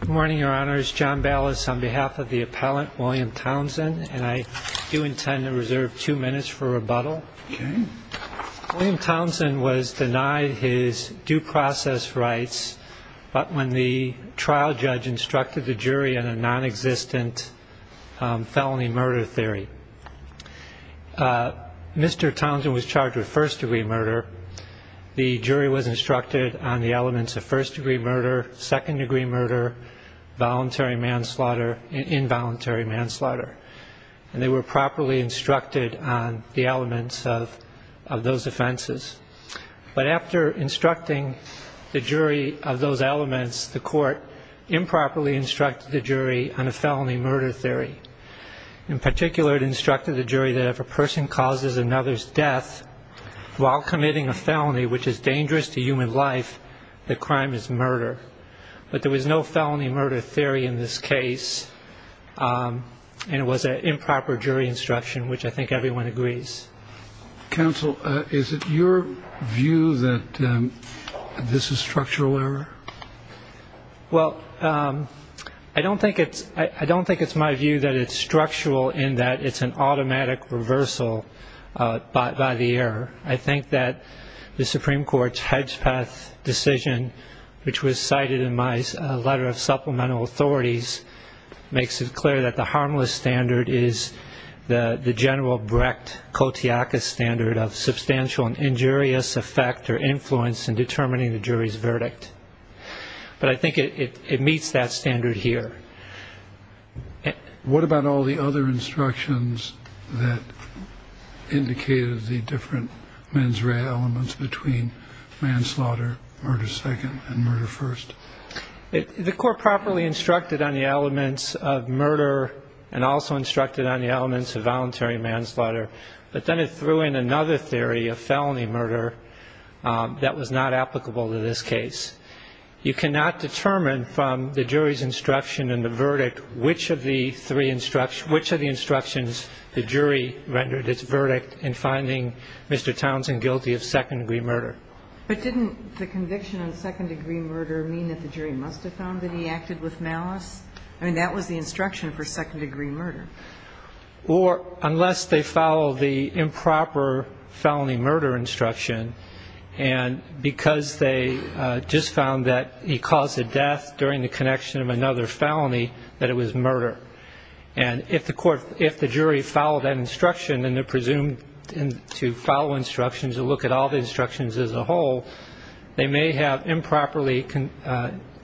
Good morning, Your Honors. John Ballas on behalf of the appellant, William Townsend, and I do intend to reserve two minutes for rebuttal. William Townsend was denied his due process rights when the trial judge instructed the jury on a non-existent felony murder theory. Mr. Townsend was charged with first-degree murder. The jury was instructed on the elements of first-degree murder, second-degree murder, voluntary manslaughter, involuntary manslaughter, and they were properly instructed on the elements of those offenses. But after instructing the jury of those elements, the court improperly instructed the jury on a felony murder theory. In particular, it instructed the jury that if a person causes another's death while committing a felony which is dangerous to human life, the crime is murder. But there was no felony murder theory in this case, and it was an improper jury instruction, which I think everyone agrees. Counsel, is it your view that this is structural error? Well, I don't think it's my view that it's structural in that it's an automatic reversal by the error. I think that the Supreme Court's Hedgepeth decision, which was cited in my letter of supplemental authorities, makes it clear that the harmless standard is the general Brecht-Kotiakis standard of substantial and injurious effect or influence in determining the jury's verdict. But I think it meets that standard here. What about all the other instructions that indicated the different mens rea elements between manslaughter, murder second, and murder first? The court properly instructed on the elements of murder and also instructed on the elements of voluntary manslaughter, but then it threw in another theory of felony murder that was not applicable to this case. You cannot determine from the jury's instruction and the verdict which of the three instructions the jury rendered its verdict in finding Mr. Townsend guilty of second-degree murder. But didn't the conviction on second-degree murder mean that the jury must have found that he acted with malice? I mean, that was the instruction for second-degree murder. Or unless they follow the improper felony murder instruction, and because they just found that he caused a death during the connection of another felony, that it was murder. And if the jury followed that instruction and they're presumed to follow instructions and look at all the instructions as a whole, they may have improperly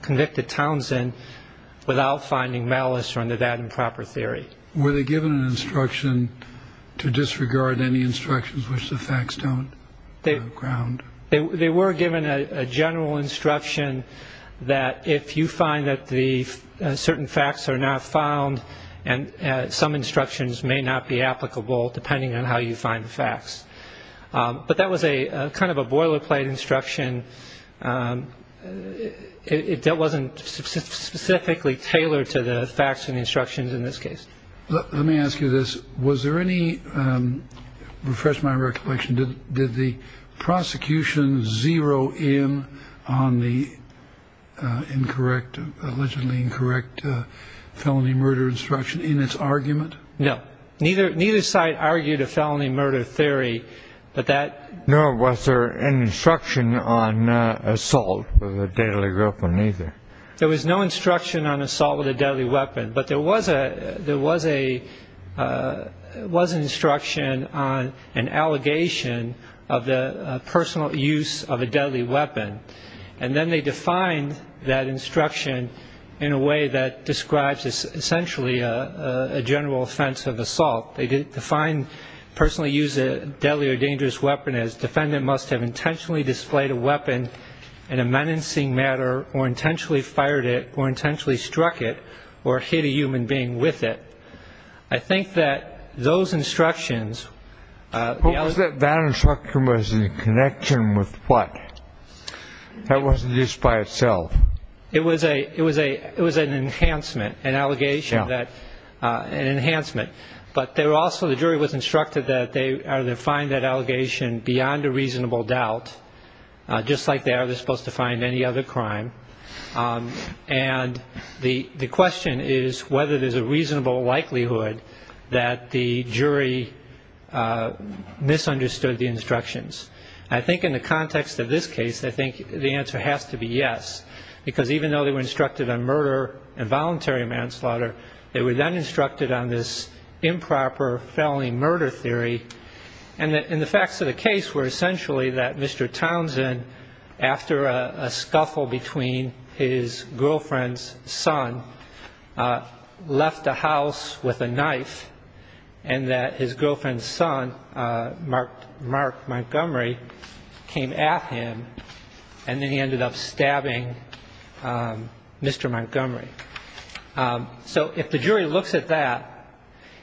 convicted Townsend without finding malice under that improper theory. Were they given an instruction to disregard any instructions which the facts don't ground? They were given a general instruction that if you find that the certain facts are not found and some instructions may not be applicable depending on how you find the facts. But that was a kind of a boilerplate instruction. It wasn't specifically tailored to the facts and instructions in this case. Let me ask you this. Was there any refresh my recollection? Did the prosecution zero in on the incorrect, allegedly incorrect felony murder instruction in its argument? No. Neither side argued a felony murder theory, but that... No. Was there an instruction on assault with a deadly weapon either? There was no instruction on assault with a deadly weapon. But there was an instruction on an allegation of the personal use of a deadly weapon. And then they defined that instruction in a way that describes essentially a general offense of assault. They defined personal use of a deadly or dangerous weapon as defendant must have intentionally displayed a weapon in a menacing manner or intentionally fired it or intentionally struck it or hit a human being with it. I think that those instructions... Was that bad instruction was in connection with what? That wasn't just by itself. It was an enhancement, an allegation that... Yeah. An enhancement. But they were also, the jury was instructed that they either find that allegation beyond a reasonable doubt, just like they are supposed to find any other crime. And the question is whether there's a reasonable likelihood that the jury misunderstood the instructions. I think in the context of this case, I think the answer has to be yes, because even though they were instructed on murder and voluntary manslaughter, they were then instructed on this improper felony murder theory. And the facts of the case were essentially that Mr. Townsend, after a scuffle between his girlfriend's son, left the house with a knife, and that his girlfriend's son, Mark Montgomery, came at him, and then he ended up stabbing Mr. Montgomery. So if the jury looks at that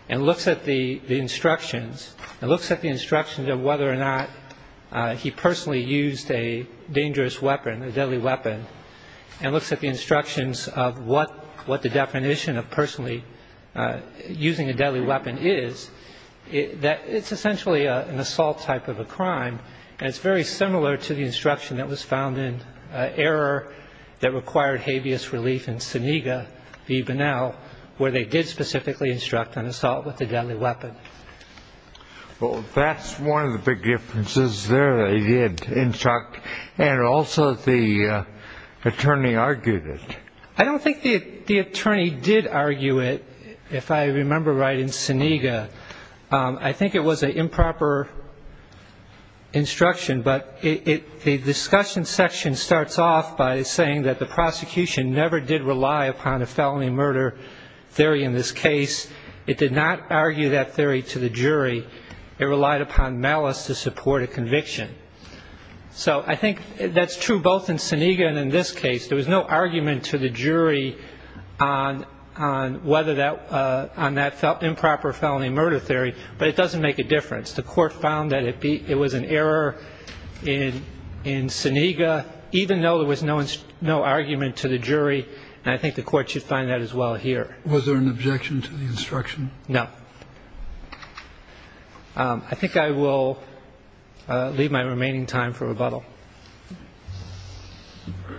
and looks at the instructions, and looks at the instructions of whether or not he personally used a dangerous weapon, a deadly weapon, and looks at the instructions of what the definition of personally using a deadly weapon is, it's essentially an assault type of a crime, and it's very similar to the instruction that was found in error that required habeas relief in Senega v. Bonnell, where they did specifically instruct on assault with a deadly weapon. Well, that's one of the big differences there. They did instruct, and also the attorney argued it. I don't think the attorney did argue it, if I remember right, in Senega. I think it was an improper instruction, but the discussion section starts off by saying that the prosecution never did rely upon a felony murder theory in this case. It did not argue that theory to the jury. It relied upon malice to support a conviction. So I think that's true both in Senega and in this case. There was no argument to the jury on whether that improper felony murder theory, but it doesn't make a difference. The court found that it was an error in Senega, even though there was no argument to the jury, and I think the court should find that as well here. Was there an objection to the instruction? No. I think I will leave my remaining time for rebuttal. Thank you.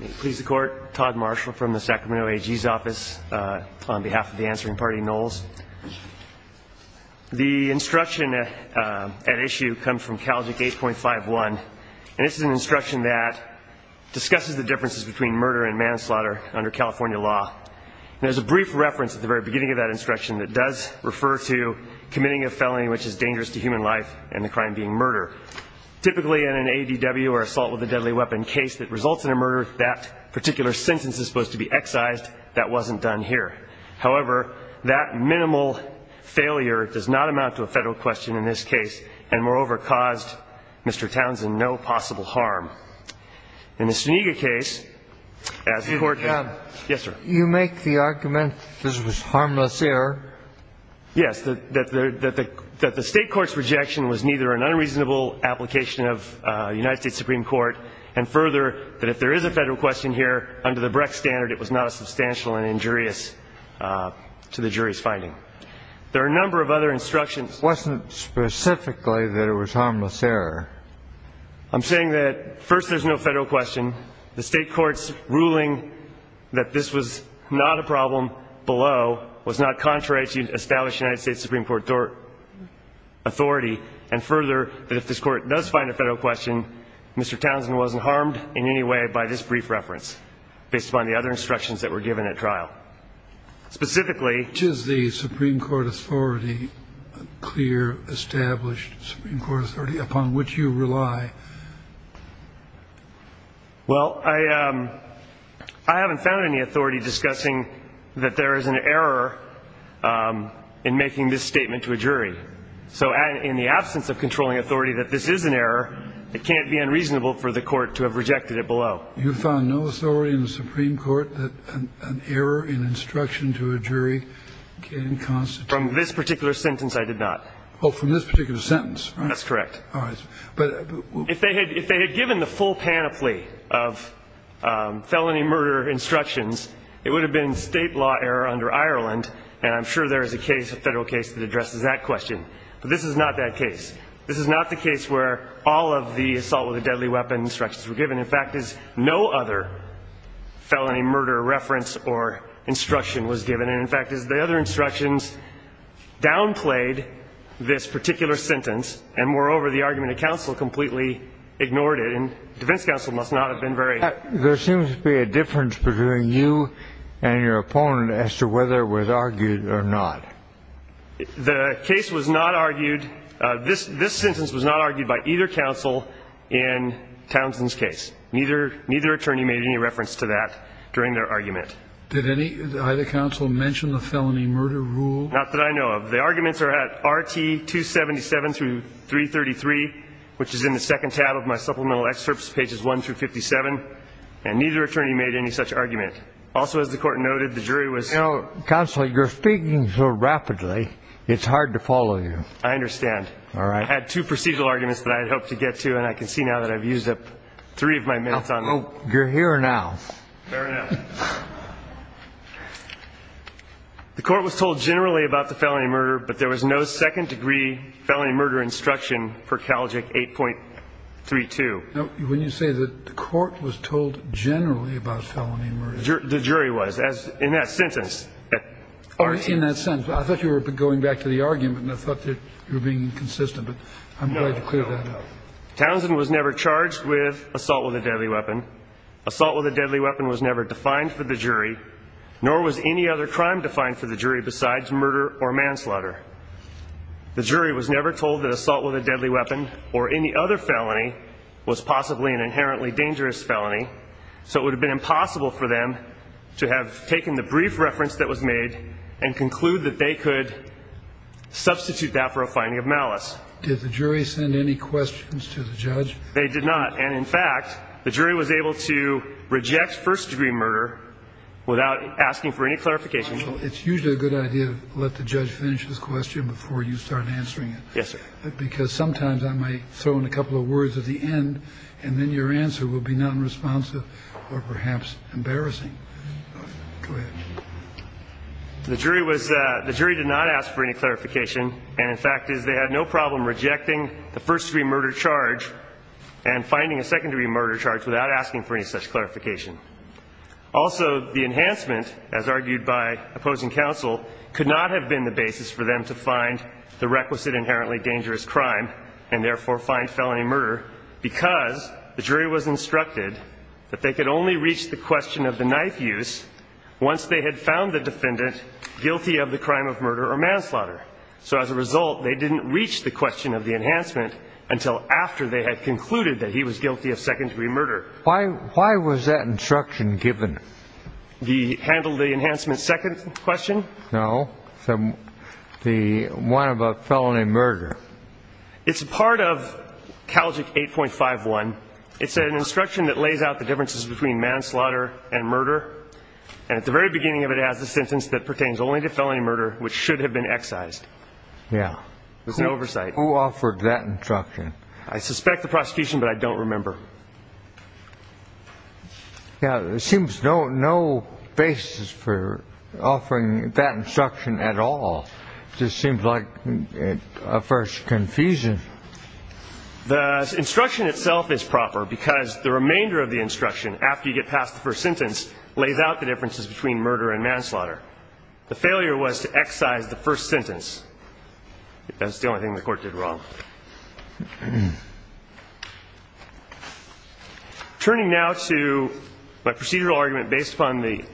May it please the Court. Todd Marshall from the Sacramento AG's office on behalf of the answering party, Knowles. The instruction at issue comes from CALJIC 8.51, and this is an instruction that discusses the differences between murder and manslaughter under California law. There's a brief reference at the very beginning of that instruction that does refer to committing a felony which is dangerous to human life and the crime being murder. Typically, in an ADW or assault with a deadly weapon case that results in a murder, that particular sentence is supposed to be excised. That wasn't done here. However, that minimal failure does not amount to a Federal question in this case and, moreover, caused Mr. Townsend no possible harm. In the Senega case, as the Court found – Yes, sir. You make the argument this was harmless error. Yes, that the State court's rejection was neither an unreasonable application of the United States Supreme Court and, further, that if there is a Federal question here, under the Brex standard it was not a substantial and injurious to the jury's finding. There are a number of other instructions. It wasn't specifically that it was harmless error. I'm saying that, first, there's no Federal question. The State court's ruling that this was not a problem below was not contrary to the established United States Supreme Court authority, and, further, that if this Court does find a Federal question, Mr. Townsend wasn't harmed in any way by this brief reference based upon the other instructions that were given at trial. Specifically – Is the Supreme Court authority a clear, established Supreme Court authority upon which you rely? Well, I haven't found any authority discussing that there is an error in making this statement to a jury. So in the absence of controlling authority that this is an error, it can't be unreasonable for the Court to have rejected it below. You found no authority in the Supreme Court that an error in instruction to a jury can constitute – From this particular sentence, I did not. Oh, from this particular sentence, right? That's correct. If they had given the full panoply of felony murder instructions, it would have been State law error under Ireland, and I'm sure there is a case, a Federal case, that addresses that question. But this is not that case. This is not the case where all of the assault with a deadly weapon instructions were given. In fact, as no other felony murder reference or instruction was given, and, in fact, as the other instructions downplayed this particular sentence, and, moreover, the argument of counsel completely ignored it, and defense counsel must not have been very – There seems to be a difference between you and your opponent as to whether it was argued or not. The case was not argued – this sentence was not argued by either counsel in Townsend's case. Neither attorney made any reference to that during their argument. Did either counsel mention the felony murder rule? Not that I know of. The arguments are at R.T. 277 through 333, which is in the second tab of my supplemental excerpts, pages 1 through 57. And neither attorney made any such argument. Also, as the Court noted, the jury was – Counsel, you're speaking so rapidly, it's hard to follow you. I understand. All right. I had two procedural arguments that I had hoped to get to, and I can see now that I've used up three of my minutes on them. You're here now. Fair enough. The Court was told generally about the felony murder, but there was no second-degree felony murder instruction for CALJIC 8.32. Now, when you say that the Court was told generally about felony murder – The jury was, as in that sentence. Or in that sentence. I thought you were going back to the argument, and I thought you were being consistent, but I'm glad to clear that up. No, no. Townsend was never charged with assault with a deadly weapon. Assault with a deadly weapon was never defined for the jury, nor was any other crime defined for the jury besides murder or manslaughter. The jury was never told that assault with a deadly weapon or any other felony was possibly an inherently dangerous felony, so it would have been impossible for them to have taken the brief reference that was made and conclude that they could substitute that for a finding of malice. Did the jury send any questions to the judge? They did not. And, in fact, the jury was able to reject first-degree murder without asking for any clarification. It's usually a good idea to let the judge finish his question before you start answering it. Yes, sir. Because sometimes I might throw in a couple of words at the end, and then your answer will be nonresponsive or perhaps embarrassing. Go ahead. The jury did not ask for any clarification, and, in fact, they had no problem rejecting the first-degree murder charge and finding a secondary murder charge without asking for any such clarification. Also, the enhancement, as argued by opposing counsel, could not have been the basis for them to find the requisite inherently dangerous crime and, therefore, find felony murder because the jury was instructed that they could only reach the question of the knife use once they had found the defendant guilty of the crime of murder or manslaughter. So, as a result, they didn't reach the question of the enhancement until after they had concluded that he was guilty of second-degree murder. Why was that instruction given? The handle the enhancement second question? No. The one about felony murder. It's part of Calgic 8.51. It's an instruction that lays out the differences between manslaughter and murder, and at the very beginning of it it has a sentence that pertains only to felony murder, which should have been excised. Yeah. There's no oversight. Who offered that instruction? I suspect the prosecution, but I don't remember. Yeah, there seems no basis for offering that instruction at all. It just seems like a first confusion. The instruction itself is proper because the remainder of the instruction, after you get past the first sentence, lays out the differences between murder and manslaughter. The failure was to excise the first sentence. That's the only thing the Court did wrong. Turning now to my procedural argument based upon the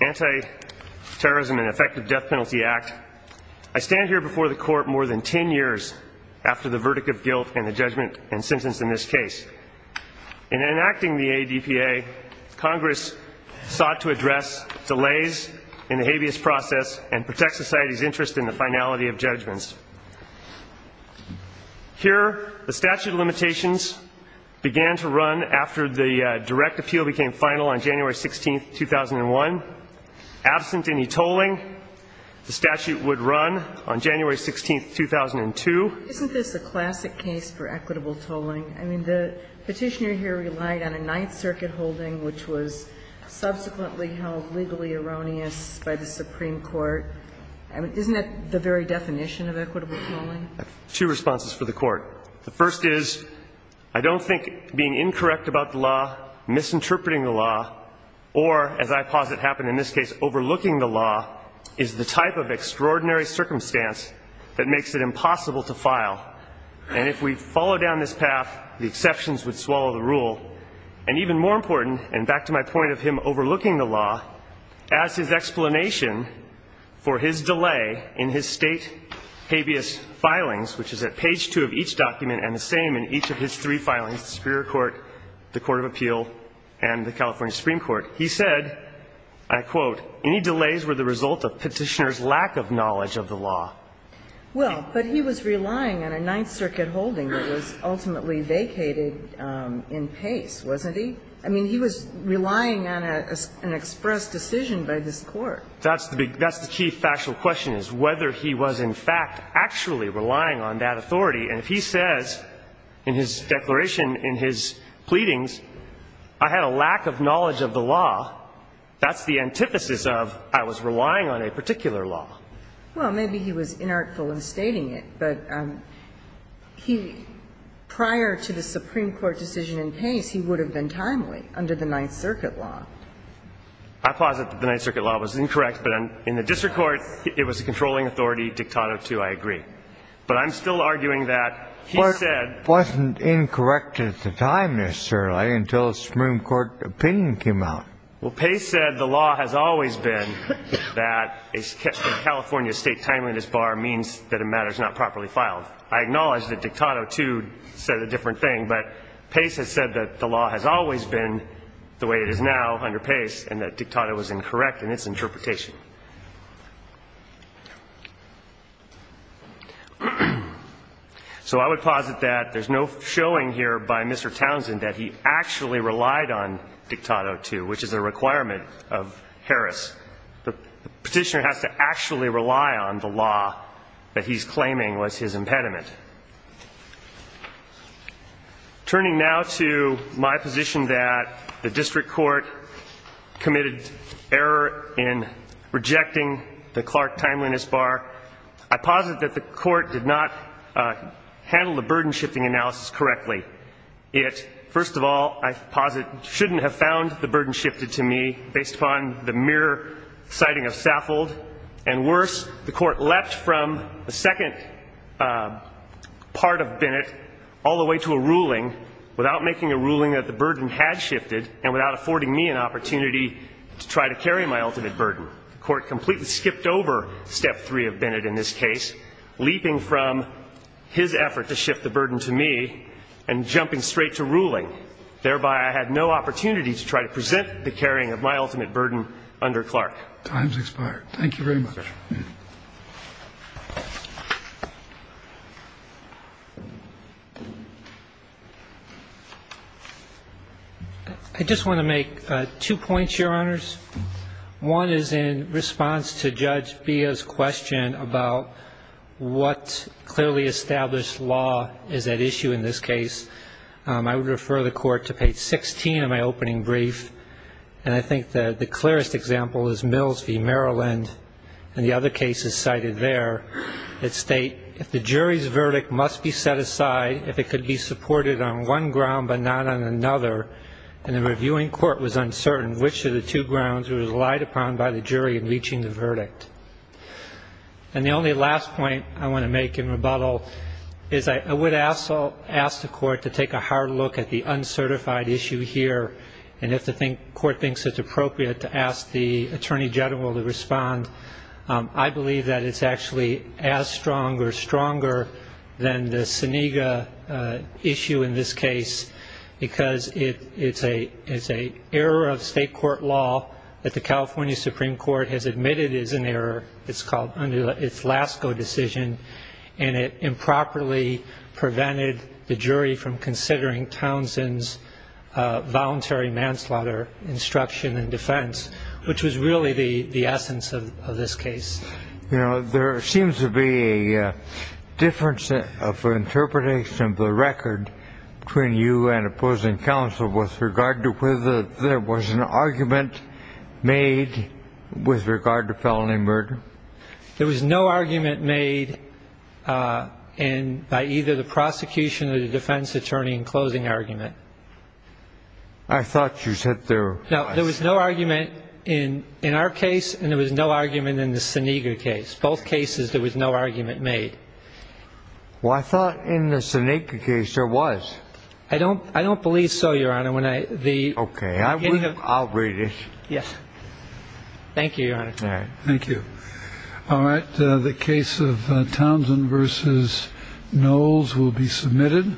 Anti-Terrorism and Effective Death Penalty Act, I stand here before the Court more than 10 years after the verdict of guilt and the judgment and sentence in this case. In enacting the ADPA, Congress sought to address delays in the habeas process and protect society's interest in the finality of judgments. Here, the statute of limitations began to run after the direct appeal became final on January 16, 2001. Absent any tolling, the statute would run on January 16, 2002. Isn't this a classic case for equitable tolling? I mean, the Petitioner here relied on a Ninth Circuit holding, which was subsequently held legally erroneous by the Supreme Court. I mean, isn't that the very definition of equitable tolling? I have two responses for the Court. The first is, I don't think being incorrect about the law, misinterpreting the law, or, as I posit happened in this case, overlooking the law is the type of extraordinary circumstance that makes it impossible to file. And if we follow down this path, the exceptions would swallow the rule. And even more important, and back to my point of him overlooking the law, as his explanation for his delay in his State habeas filings, which is at page two of each document and the same in each of his three filings, the Superior Court, the Court of Appeal, and the California Supreme Court, he said, I quote, any delays were the result of Petitioner's lack of knowledge of the law. Well, but he was relying on a Ninth Circuit holding that was ultimately vacated in pace, wasn't he? I mean, he was relying on an express decision by this Court. That's the key factual question, is whether he was in fact actually relying on that authority. And if he says in his declaration, in his pleadings, I had a lack of knowledge of the law, that's the antithesis of I was relying on a particular law. Well, maybe he was inartful in stating it. But he, prior to the Supreme Court decision in pace, he would have been timely under the Ninth Circuit law. I posit that the Ninth Circuit law was incorrect. But in the district court, it was a controlling authority, Dictato II, I agree. But I'm still arguing that he said. It wasn't incorrect at the time, necessarily, until the Supreme Court opinion came out. Well, pace said the law has always been that a California state timeliness bar means that a matter is not properly filed. I acknowledge that Dictato II said a different thing. But pace has said that the law has always been the way it is now under pace, and that Dictato was incorrect in its interpretation. So I would posit that there's no showing here by Mr. Townsend that he actually relied on Dictato II, which is a requirement of Harris. The petitioner has to actually rely on the law that he's claiming was his impediment. Turning now to my position that the district court committed error in rejecting the Clark timeliness bar, I posit that the court did not handle the burden shifting analysis correctly. It, first of all, I posit shouldn't have found the burden shifted to me based upon the mere sighting of Saffold. And worse, the court leapt from the second part of Bennett all the way to a ruling without making a ruling that the burden had shifted and without affording me an opportunity to try to carry my ultimate burden. The court completely skipped over step three of Bennett in this case, leaping from his effort to shift the burden to me and jumping straight to ruling. Thereby, I had no opportunity to try to present the carrying of my ultimate burden under Clark. Time's expired. Thank you very much. I just want to make two points, Your Honors. One is in response to Judge Bia's question about what clearly established law is at issue in this case. I would refer the court to page 16 of my opening brief, and I think the clearest example is Mills v. Maryland, and the other cases cited there that state, if the jury's verdict must be set aside, if it could be supported on one ground but not on another, and the reviewing court was uncertain which of the two grounds was relied upon by the jury in reaching the verdict. And the only last point I want to make in rebuttal is I would ask the court to take a hard look at the uncertified issue here, and if the court thinks it's appropriate to ask the Attorney General to respond, I believe that it's actually as strong or stronger than the Senega issue in this case, because it's an error of state court law that the California Supreme Court has admitted is an error. It's Lascaux decision, and it improperly prevented the jury from considering Townsend's voluntary manslaughter instruction in defense, which was really the essence of this case. You know, there seems to be a difference of interpretation of the record between you and opposing counsel with regard to whether there was an argument made with regard to felony murder. There was no argument made by either the prosecution or the defense attorney in closing argument. I thought you said there was. No, there was no argument in our case, and there was no argument in the Senega case, both cases there was no argument made. Well, I thought in the Senega case there was. I don't believe so, Your Honor. Okay, I'll read it. Yes. Thank you, Your Honor. All right, thank you. All right, the case of Townsend v. Knowles will be submitted.